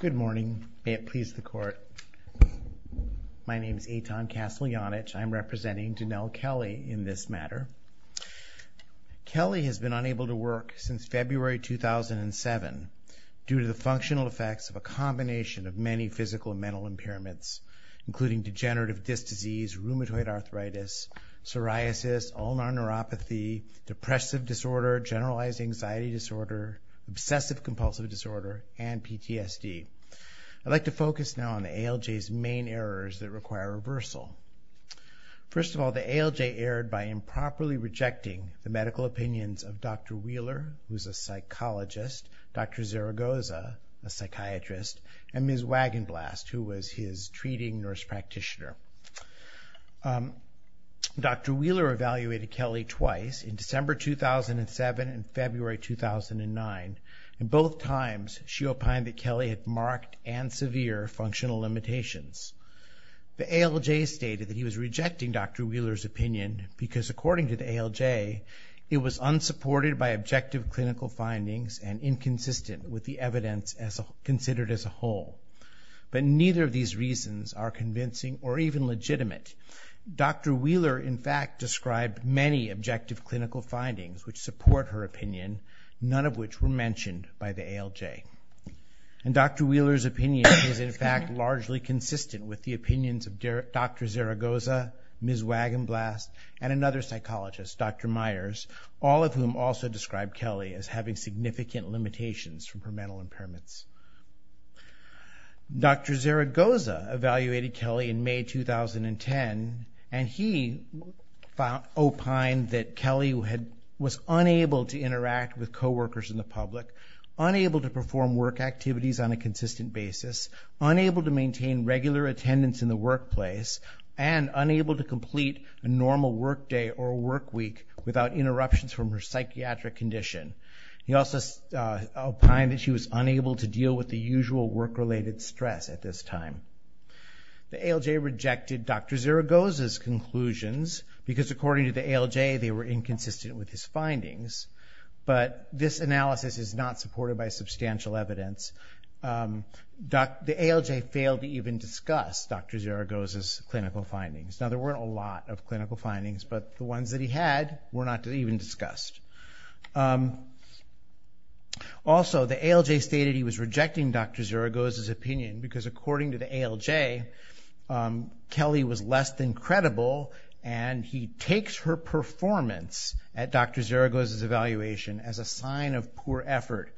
Good morning. May it please the Court. My name is Eitan Kasteljanich. I'm representing Denell Kelly in this matter. Kelly has been unable to work since February 2007 due to the functional effects of a combination of many physical and mental impairments, including degenerative disc disease, rheumatoid arthritis, psoriasis, ulnar neuropathy, depressive disorder, generalized anxiety disorder, obsessive compulsive disorder, and PTSD. I'd like to focus now on the ALJ's main errors that require reversal. First of all, the ALJ erred by improperly rejecting the medical opinions of Dr. Wheeler, who's a psychologist, Dr. Zaragoza, a psychiatrist, and Ms. Wagenblast, who was his treating nurse practitioner. Dr. Wheeler evaluated Kelly twice, in December 2007 and February 2009, and both times she opined that Kelly had marked and severe functional limitations. The ALJ stated that he was rejecting Dr. Wheeler's opinion because, according to the ALJ, it was unsupported by objective clinical findings and inconsistent with the evidence considered as a whole. But neither of these reasons are objective clinical findings, which support her opinion, none of which were mentioned by the ALJ. And Dr. Wheeler's opinion is, in fact, largely consistent with the opinions of Dr. Zaragoza, Ms. Wagenblast, and another psychologist, Dr. Myers, all of whom also described Kelly as having significant limitations from her mental impairments. Dr. Zaragoza evaluated Kelly in May 2010, and he opined that Kelly was unable to interact with co-workers in the public, unable to perform work activities on a consistent basis, unable to maintain regular attendance in the workplace, and unable to complete a normal work day or work week without interruptions from her psychiatric condition. He also opined that she was unable to deal with the usual work-related stress at this time. The ALJ rejected Dr. Zaragoza's conclusions because, according to the ALJ, they were inconsistent with his findings. But this analysis is not supported by substantial evidence. The ALJ failed to even discuss Dr. Zaragoza's clinical findings. Now, there weren't a lot of clinical findings, but the ones that the ALJ stated he was rejecting Dr. Zaragoza's opinion because, according to the ALJ, Kelly was less than credible, and he takes her performance at Dr. Zaragoza's evaluation as a sign of poor effort.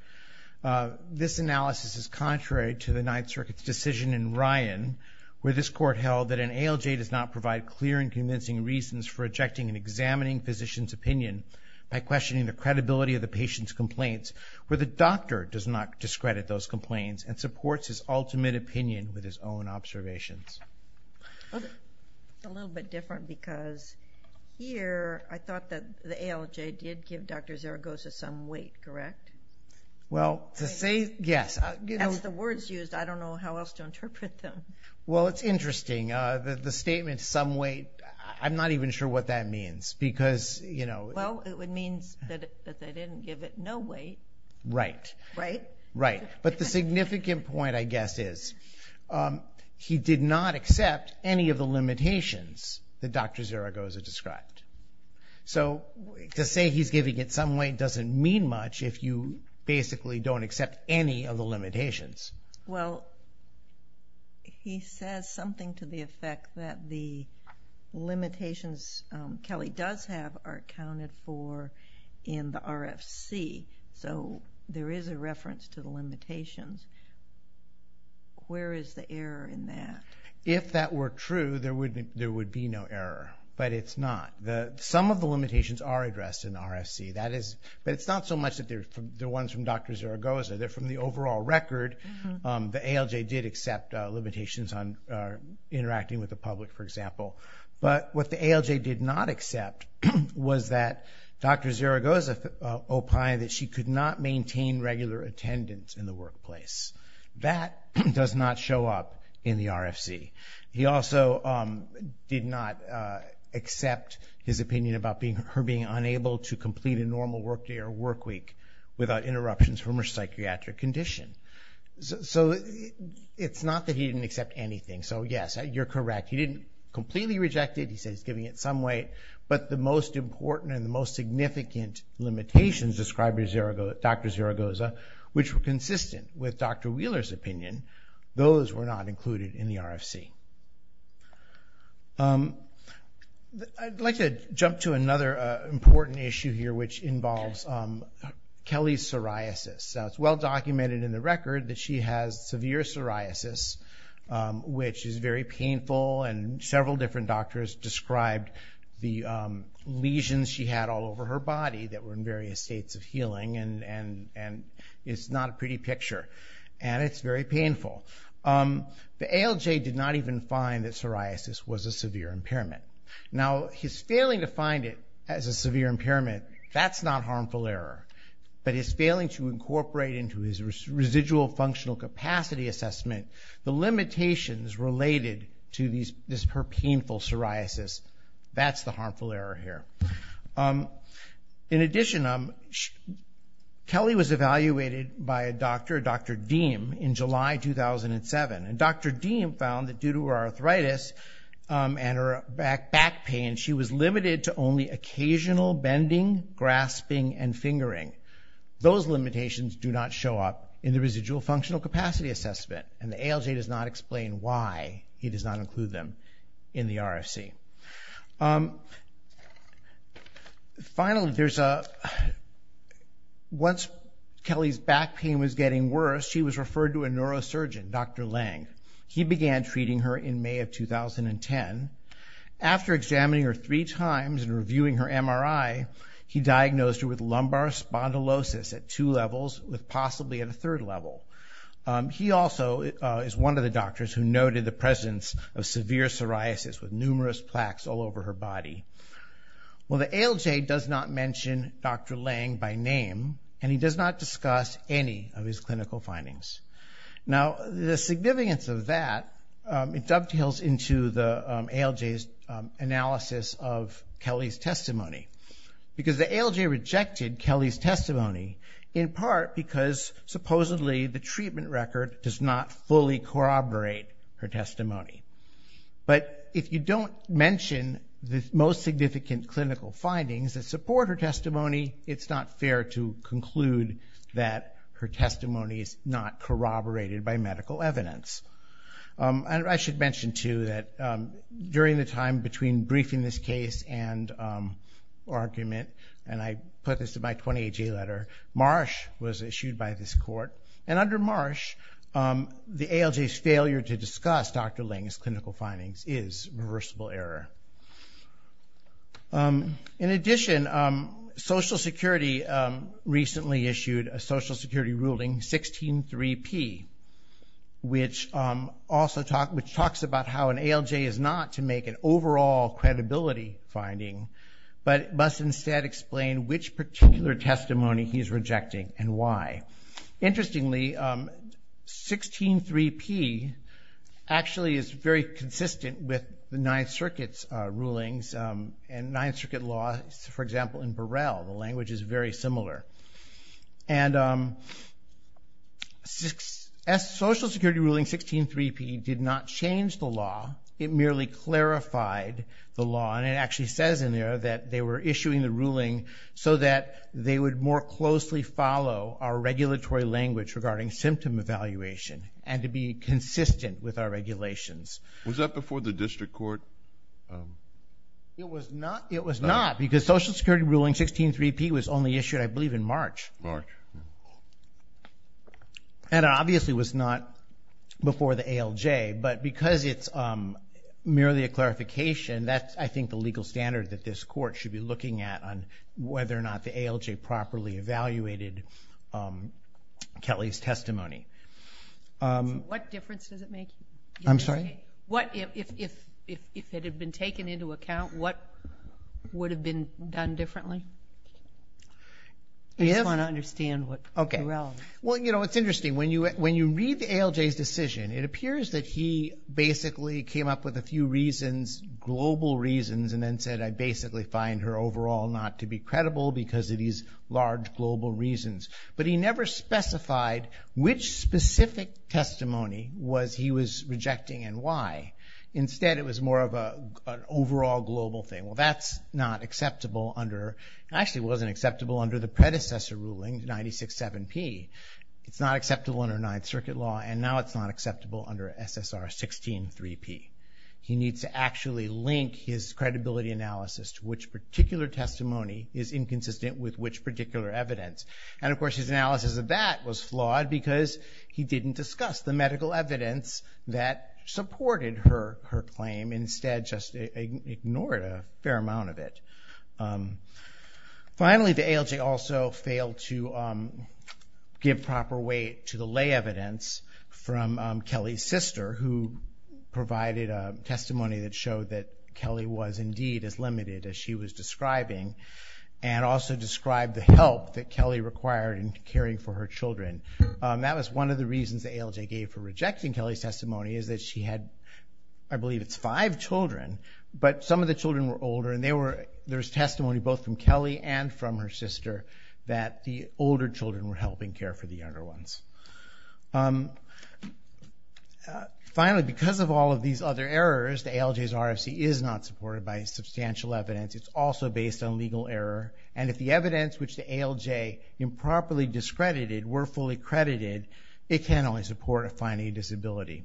This analysis is contrary to the Ninth Circuit's decision in Ryan, where this court held that an ALJ does not provide clear and convincing reasons for rejecting and examining a physician's opinion by questioning the credibility of the patient's complaints, where the doctor does not discredit those complaints and supports his ultimate opinion with his own observations. It's a little bit different because here I thought that the ALJ did give Dr. Zaragoza some weight, correct? Well, to say yes... That's the words used. I don't know how else to interpret them. Well, it's interesting. The statement, some weight, I'm not even sure what that means because, you know... Well, it would mean that they didn't give it no weight, right? Right. But the significant point, I guess, is he did not accept any of the limitations that Dr. Zaragoza described. So to say he's giving it some weight doesn't mean much if you basically don't accept any of the limitations. Well, he says something to the effect that the limitations Kelly does have are counted for in the RFC. So there is a reference to the limitations. Where is the error in that? If that were true, there would be no error, but it's not. Some of the limitations are addressed in the RFC, but it's not so much the ones from Dr. Zaragoza. They're from the overall record. The ALJ did accept limitations on interacting with the public, for example. But what the ALJ did not accept was that Dr. Zaragoza opined that she could not maintain regular attendance in the workplace. That does not show up in the RFC. He also did not accept his opinion about her being unable to complete a normal workday or workweek without interruptions from her psychiatric condition. So it's not that he didn't accept anything. So yes, you're correct. He didn't completely reject it. He said he's giving it some weight. But the most important and the most significant limitations described by Dr. Zaragoza, which were consistent with Dr. Wheeler's opinion, those were not included in the RFC. I'd like to jump to another important issue here, which involves Kelly's psoriasis. It's well documented in the record that she has severe psoriasis, which is very painful. Several different doctors described the lesions she had all over her body that were in various states of healing. It's not a pretty picture, and it's very painful. The ALJ did not even find that psoriasis was a severe impairment. Now, his failing to find it as a severe impairment, that's not harmful error. But his failing to incorporate into his residual functional capacity assessment the limitations related to her painful psoriasis, that's the harmful error here. In addition, Kelly was evaluated by a doctor, Dr. Deem, in July 2007. Dr. Deem found that due to her arthritis and her back pain, she was limited to only occasional bending, grasping, and fingering. Those limitations do not show up in the residual functional capacity assessment, and the ALJ does not explain why he does not include them in the RFC. Finally, once Kelly's back pain was getting worse, she was referred to a neurosurgeon, Dr. Lange. He began treating her in May of 2010. After examining her three times and reviewing her MRI, he diagnosed her with lumbar spondylosis at two levels, with possibly at a third level. He also is one of the doctors who noted the presence of severe psoriasis with numerous plaques all over her body. Well, the ALJ does not mention Dr. Lange by name, and he does not discuss any of his clinical findings. Now, the significance of that dovetails into the ALJ's analysis of Kelly's testimony, because the ALJ rejected Kelly's testimony in part because supposedly the treatment record does not fully corroborate her testimony. But if you don't mention the most significant clinical findings that support her testimony, it's not fair to conclude that her testimony is not corroborated by medical evidence. I should mention, too, that during the time between briefing this case and argument, and I put this in my 20AJ letter, Marsh was issued by this court. Under Marsh, the ALJ's failure to discuss Dr. Lange's clinical findings is reversible error. In addition, Social Security recently issued a Social Security ruling, 16-3-P, which talks about how an ALJ is not to make an overall credibility finding, but must instead explain which particular testimony he is rejecting and why. Interestingly, 16-3-P actually is very consistent with the Ninth Circuit's rulings, and Ninth Circuit law, for example, in Burrell, the language is very similar. And Social Security ruling 16-3-P did not change the law. It merely clarified the law, and it actually says in the ruling, so that they would more closely follow our regulatory language regarding symptom evaluation and to be consistent with our regulations. Was that before the district court? It was not, because Social Security ruling 16-3-P was only issued, I believe, in March. And it obviously was not before the ALJ, but because it's merely a clarification, that's, I think, the legal standard that this court should be looking at on whether or not the ALJ properly evaluated Kelly's testimony. What difference does it make? I'm sorry? If it had been taken into account, what would have been done differently? I just want to understand what you're asking. Well, you know, it's interesting. When you read the ALJ's decision, it appears that he basically came up with a few reasons, global reasons, and then said, I basically find her overall not to be credible because of these large global reasons. But he never specified which specific testimony he was rejecting and why. Instead, it was more of an overall global thing. Well, that's not acceptable under, actually it wasn't acceptable under the predecessor ruling, 96-7-P. It's not acceptable under Ninth Circuit Law, and now it's not 19-3-P. He needs to actually link his credibility analysis to which particular testimony is inconsistent with which particular evidence. And, of course, his analysis of that was flawed because he didn't discuss the medical evidence that supported her claim. Instead, just ignored a fair amount of it. Finally, the ALJ also failed to give proper weight to the lay evidence from Kelly's sister, who provided a testimony that showed that Kelly was indeed as limited as she was describing, and also described the help that Kelly required in caring for her children. That was one of the reasons the ALJ gave for rejecting Kelly's testimony, is that she had, I believe it's five children, but some of the children were older, and there was testimony both from Kelly and from her sister that the older children were helping care for the younger ones. Finally, because of all of these other errors, the ALJ's RFC is not supported by substantial evidence. It's also based on legal error, and if the evidence which the ALJ improperly discredited were fully credited, it can only support a finding of disability.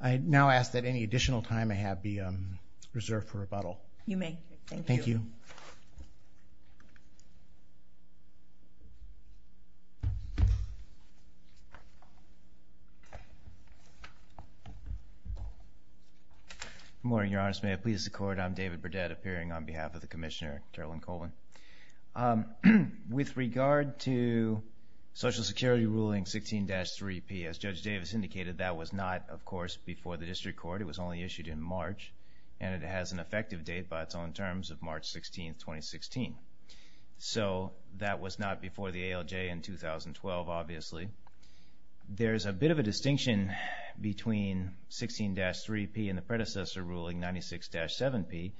I now ask that any additional time I have be reserved for rebuttal. Good morning, Your Honors. May it please the Court, I'm David Burdett, appearing on behalf of the Commissioner, Carolyn Colvin. With regard to Social Security Ruling 16-3P, as Judge Davis indicated, that was not, of course, before the District Court. It was only issued in March, and it has an effective date by its own terms of March 16, 2016. So that was not before the ALJ in 2012, obviously. There is a bit of a distinction between 16-3P and the predecessor ruling, 96-7P,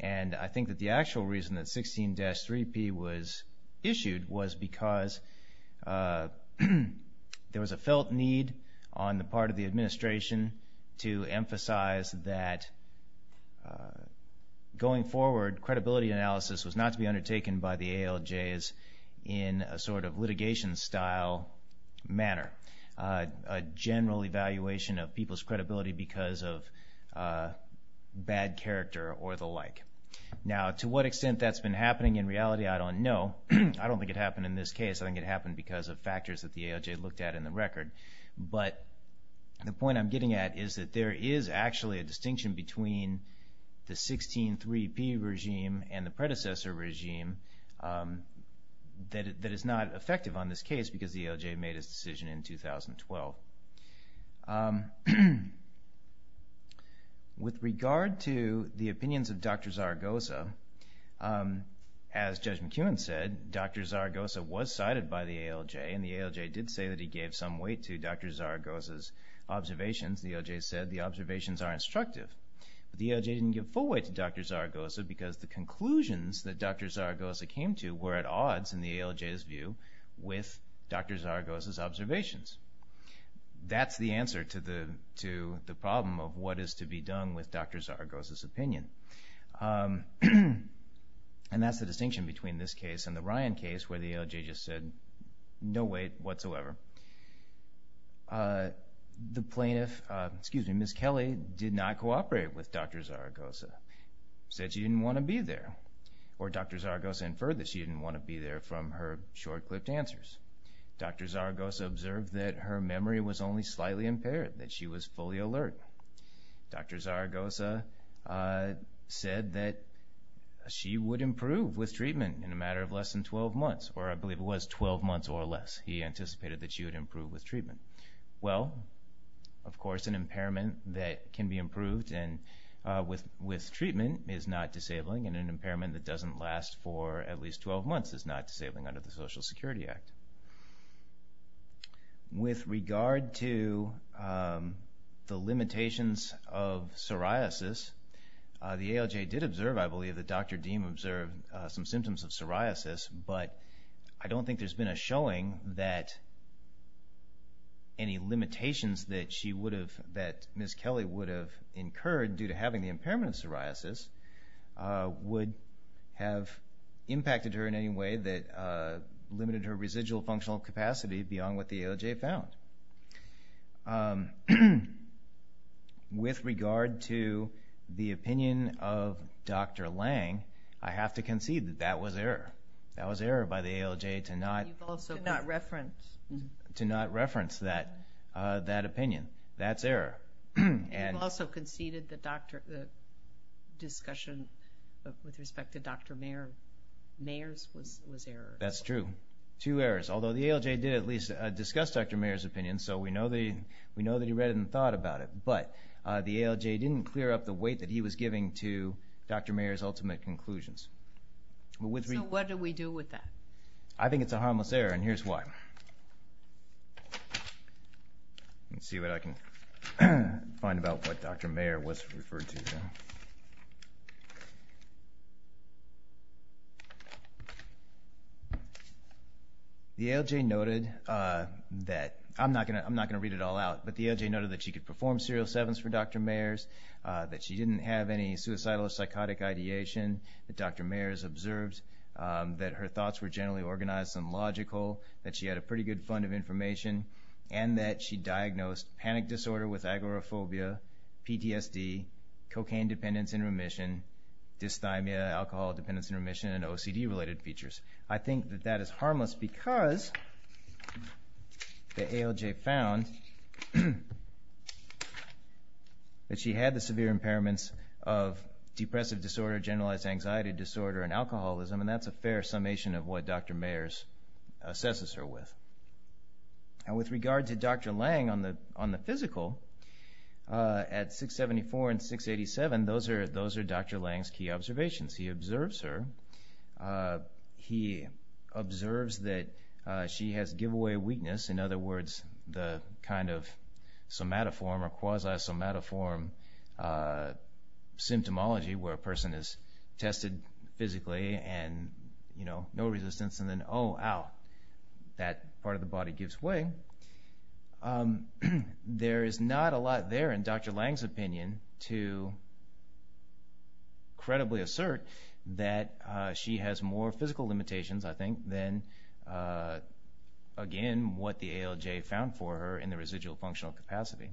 and I think that the actual reason that 16-3P was issued was because there was a felt need on the part of the administration to emphasize that going forward, credibility analysis was not to be undertaken by the ALJs in a sort of litigation style manner. A general evaluation of people's credibility because of bad character or the like. Now, to what extent that's been happening in reality, I don't know. I don't think it happened in this case. I think it happened because of factors that the ALJ looked at in the record. But the point I'm getting at is that there is actually a distinction between the 16-3P regime and the predecessor regime that is not effective on this case because the ALJ made its decision in 2012. With regard to the opinions of Dr. Zaragoza, as Judge McEwen said, Dr. Zaragoza was cited by the ALJ, and the ALJ did say that he gave some weight to Dr. Zaragoza's observations. The ALJ said the observations are instructive. The ALJ didn't give full weight to Dr. Zaragoza because the conclusions that Dr. Zaragoza came to were at odds, in the ALJ's view, with Dr. Zaragoza's observations. That's the answer to the problem of what is to be done with Dr. Zaragoza's opinion. And that's the distinction between this case and the Ryan case where the ALJ just said, no weight whatsoever. The plaintiff, excuse me, Ms. Kelly, did not cooperate with Dr. Zaragoza, said she didn't want to be there. Or Dr. Zaragoza inferred that she didn't want to be there from her short-clipped answers. Dr. Zaragoza observed that her memory was only slightly impaired, that she was fully in a matter of less than 12 months, or I believe it was 12 months or less, he anticipated that she would improve with treatment. Well, of course, an impairment that can be improved with treatment is not disabling, and an impairment that doesn't last for at least 12 months is not disabling under the Social Security Act. With regard to the limitations of psoriasis, the ALJ did observe, I believe, that Dr. Deem observed some symptoms of psoriasis, but I don't think there's been a showing that any limitations that she would have, that Ms. Kelly would have incurred due to having the impairment of psoriasis would have impacted her in any way that limited her residual functional capacity beyond what the ALJ found. With regard to the opinion of Dr. Lange, I have to concede that that was error. That was error by the ALJ to not reference that opinion. That's error. You've also conceded the discussion with respect to Dr. Mayer's was error. That's true. Two errors, although the ALJ did at least discuss Dr. Mayer's opinion, so we know that he read and thought about it, but the ALJ didn't clear up the weight that he was giving to Dr. Mayer's ultimate conclusions. So what do we do with that? I think it's a harmless error, and here's why. Let's see what I can find about what Dr. Mayer was referred to. The ALJ noted that, I'm not going to go into detail, but the ALJ noted that she could perform serial sevens for Dr. Mayer's, that she didn't have any suicidal or psychotic ideation that Dr. Mayer's observed, that her thoughts were generally organized and logical, that she had a pretty good fund of information, and that she diagnosed panic disorder with agoraphobia, PTSD, cocaine dependence and remission, dysthymia, alcohol dependence and remission, and OCD-related features. I think that that is harmless because the ALJ found that she had the severe impairments of depressive disorder, generalized anxiety disorder and alcoholism, and that's a fair summation of what Dr. Mayer's assesses her with. With regard to Dr. Lange on the physical, at 674 and 687, those are Dr. Lange's key observes that she has giveaway weakness, in other words, the kind of somatoform or quasi-somatoform symptomology where a person is tested physically and, you know, no resistance and then, oh, ow, that part of the body gives way. There is not a lot there in Dr. Lange's opinion to credibly assert that she has more physical limitations, I think, than, again, what the ALJ found for her in the residual functional capacity.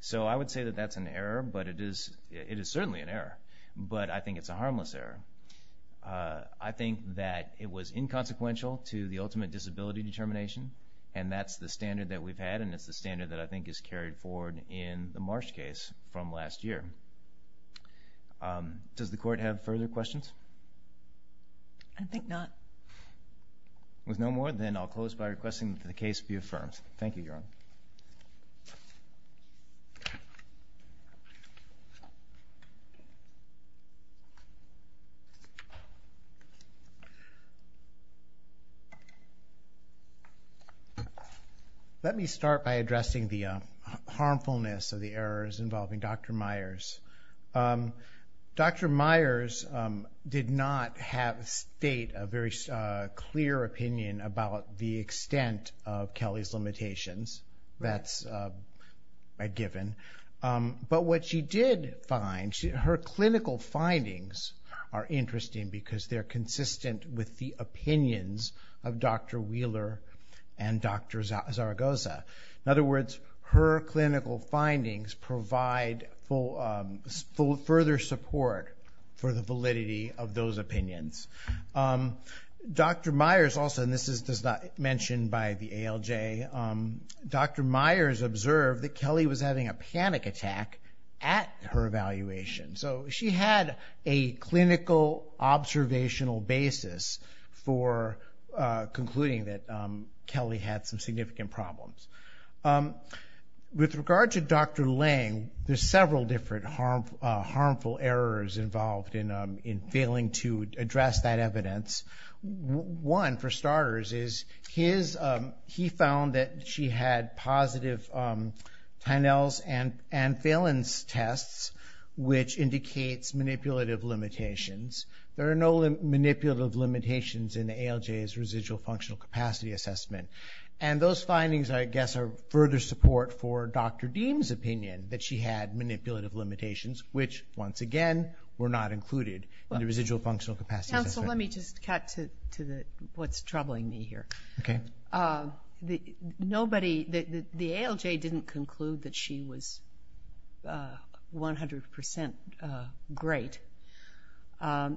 So I would say that that's an error, but it is certainly an error, but I think it's a harmless error. I think that it was inconsequential to the ultimate disability determination, and that's the standard that we've had, and it's the standard that I think is carried forward in the Marsh case from last year. Does the Court have further questions? I think not. With no more, then I'll close by requesting that the case be affirmed. Thank you, Your Honor. Let me start by addressing the harmfulness of the errors involving Dr. Myers. Dr. Myers did not state a very clear opinion about the extent of Kelly's limitations. That's a given. But what she did find, her clinical findings are interesting because they're consistent with the opinions of Dr. Wheeler and Dr. Zaragoza. In other words, her clinical findings provide further support for the validity of those opinions. Dr. Myers also, and this is not mentioned by the ALJ, Dr. Myers observed that Kelly was having a panic attack at her evaluation. So she had a clinical observational basis for concluding that Kelly had some significant problems. With regard to Dr. Lange, there's several different harmful errors involved in failing to address that evidence. One, for starters, is he found that she had positive Tynell's and Phelan's tests, which indicates manipulative limitations. There are no manipulative limitations in the ALJ's residual functional capacity assessment. Those findings, I guess, are further support for Dr. Deem's opinion that she had manipulative limitations, which, once again, were not included in the residual functional capacity assessment. Dr. Deese. So let me just cut to what's troubling me here. The ALJ didn't conclude that she was 100% great. The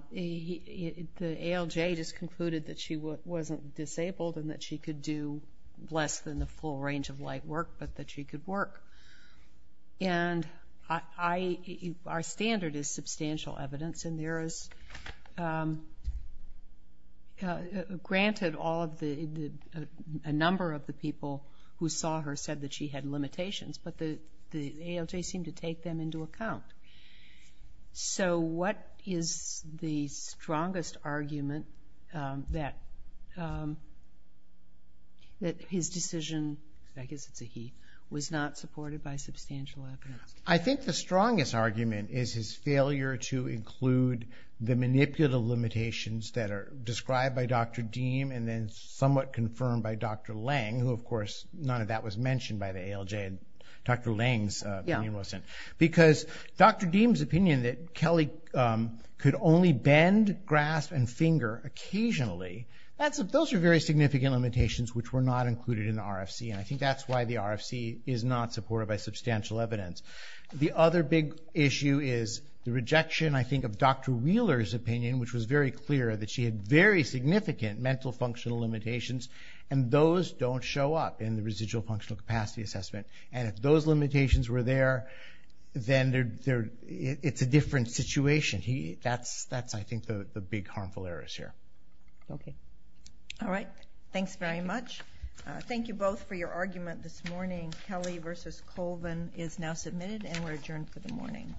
ALJ just concluded that she wasn't disabled and that she could do less than the full range of light work, but that she could work. Our standard is substantial evidence. Granted, a number of the people who saw her said that she had limitations, but the ALJ seemed to take them into account. So what is the strongest argument that his decision—I guess it's a he—was not supported by substantial evidence? I think the strongest argument is his failure to include the manipulative limitations that are described by Dr. Deem and then somewhat confirmed by Dr. Lange, who, of course, none of that was mentioned by the ALJ. Dr. Lange's opinion wasn't. Because Dr. Deem's opinion that Kelly could only bend, grasp, and finger occasionally, those are very significant limitations which were not included in the RFC, and I think that's why the RFC is not supported by substantial evidence. The other big issue is the rejection, I think, of Dr. Wheeler's opinion, which was very clear that she had very significant mental functional limitations, and those don't show up in the residual functional capacity assessment. And if those limitations were there, then it's a different situation. That's, I think, the big harmful errors here. Okay. All right. Thanks very much. Thank you both for your argument this morning, Kelly v. Colvin is now submitted and we're adjourned for the morning.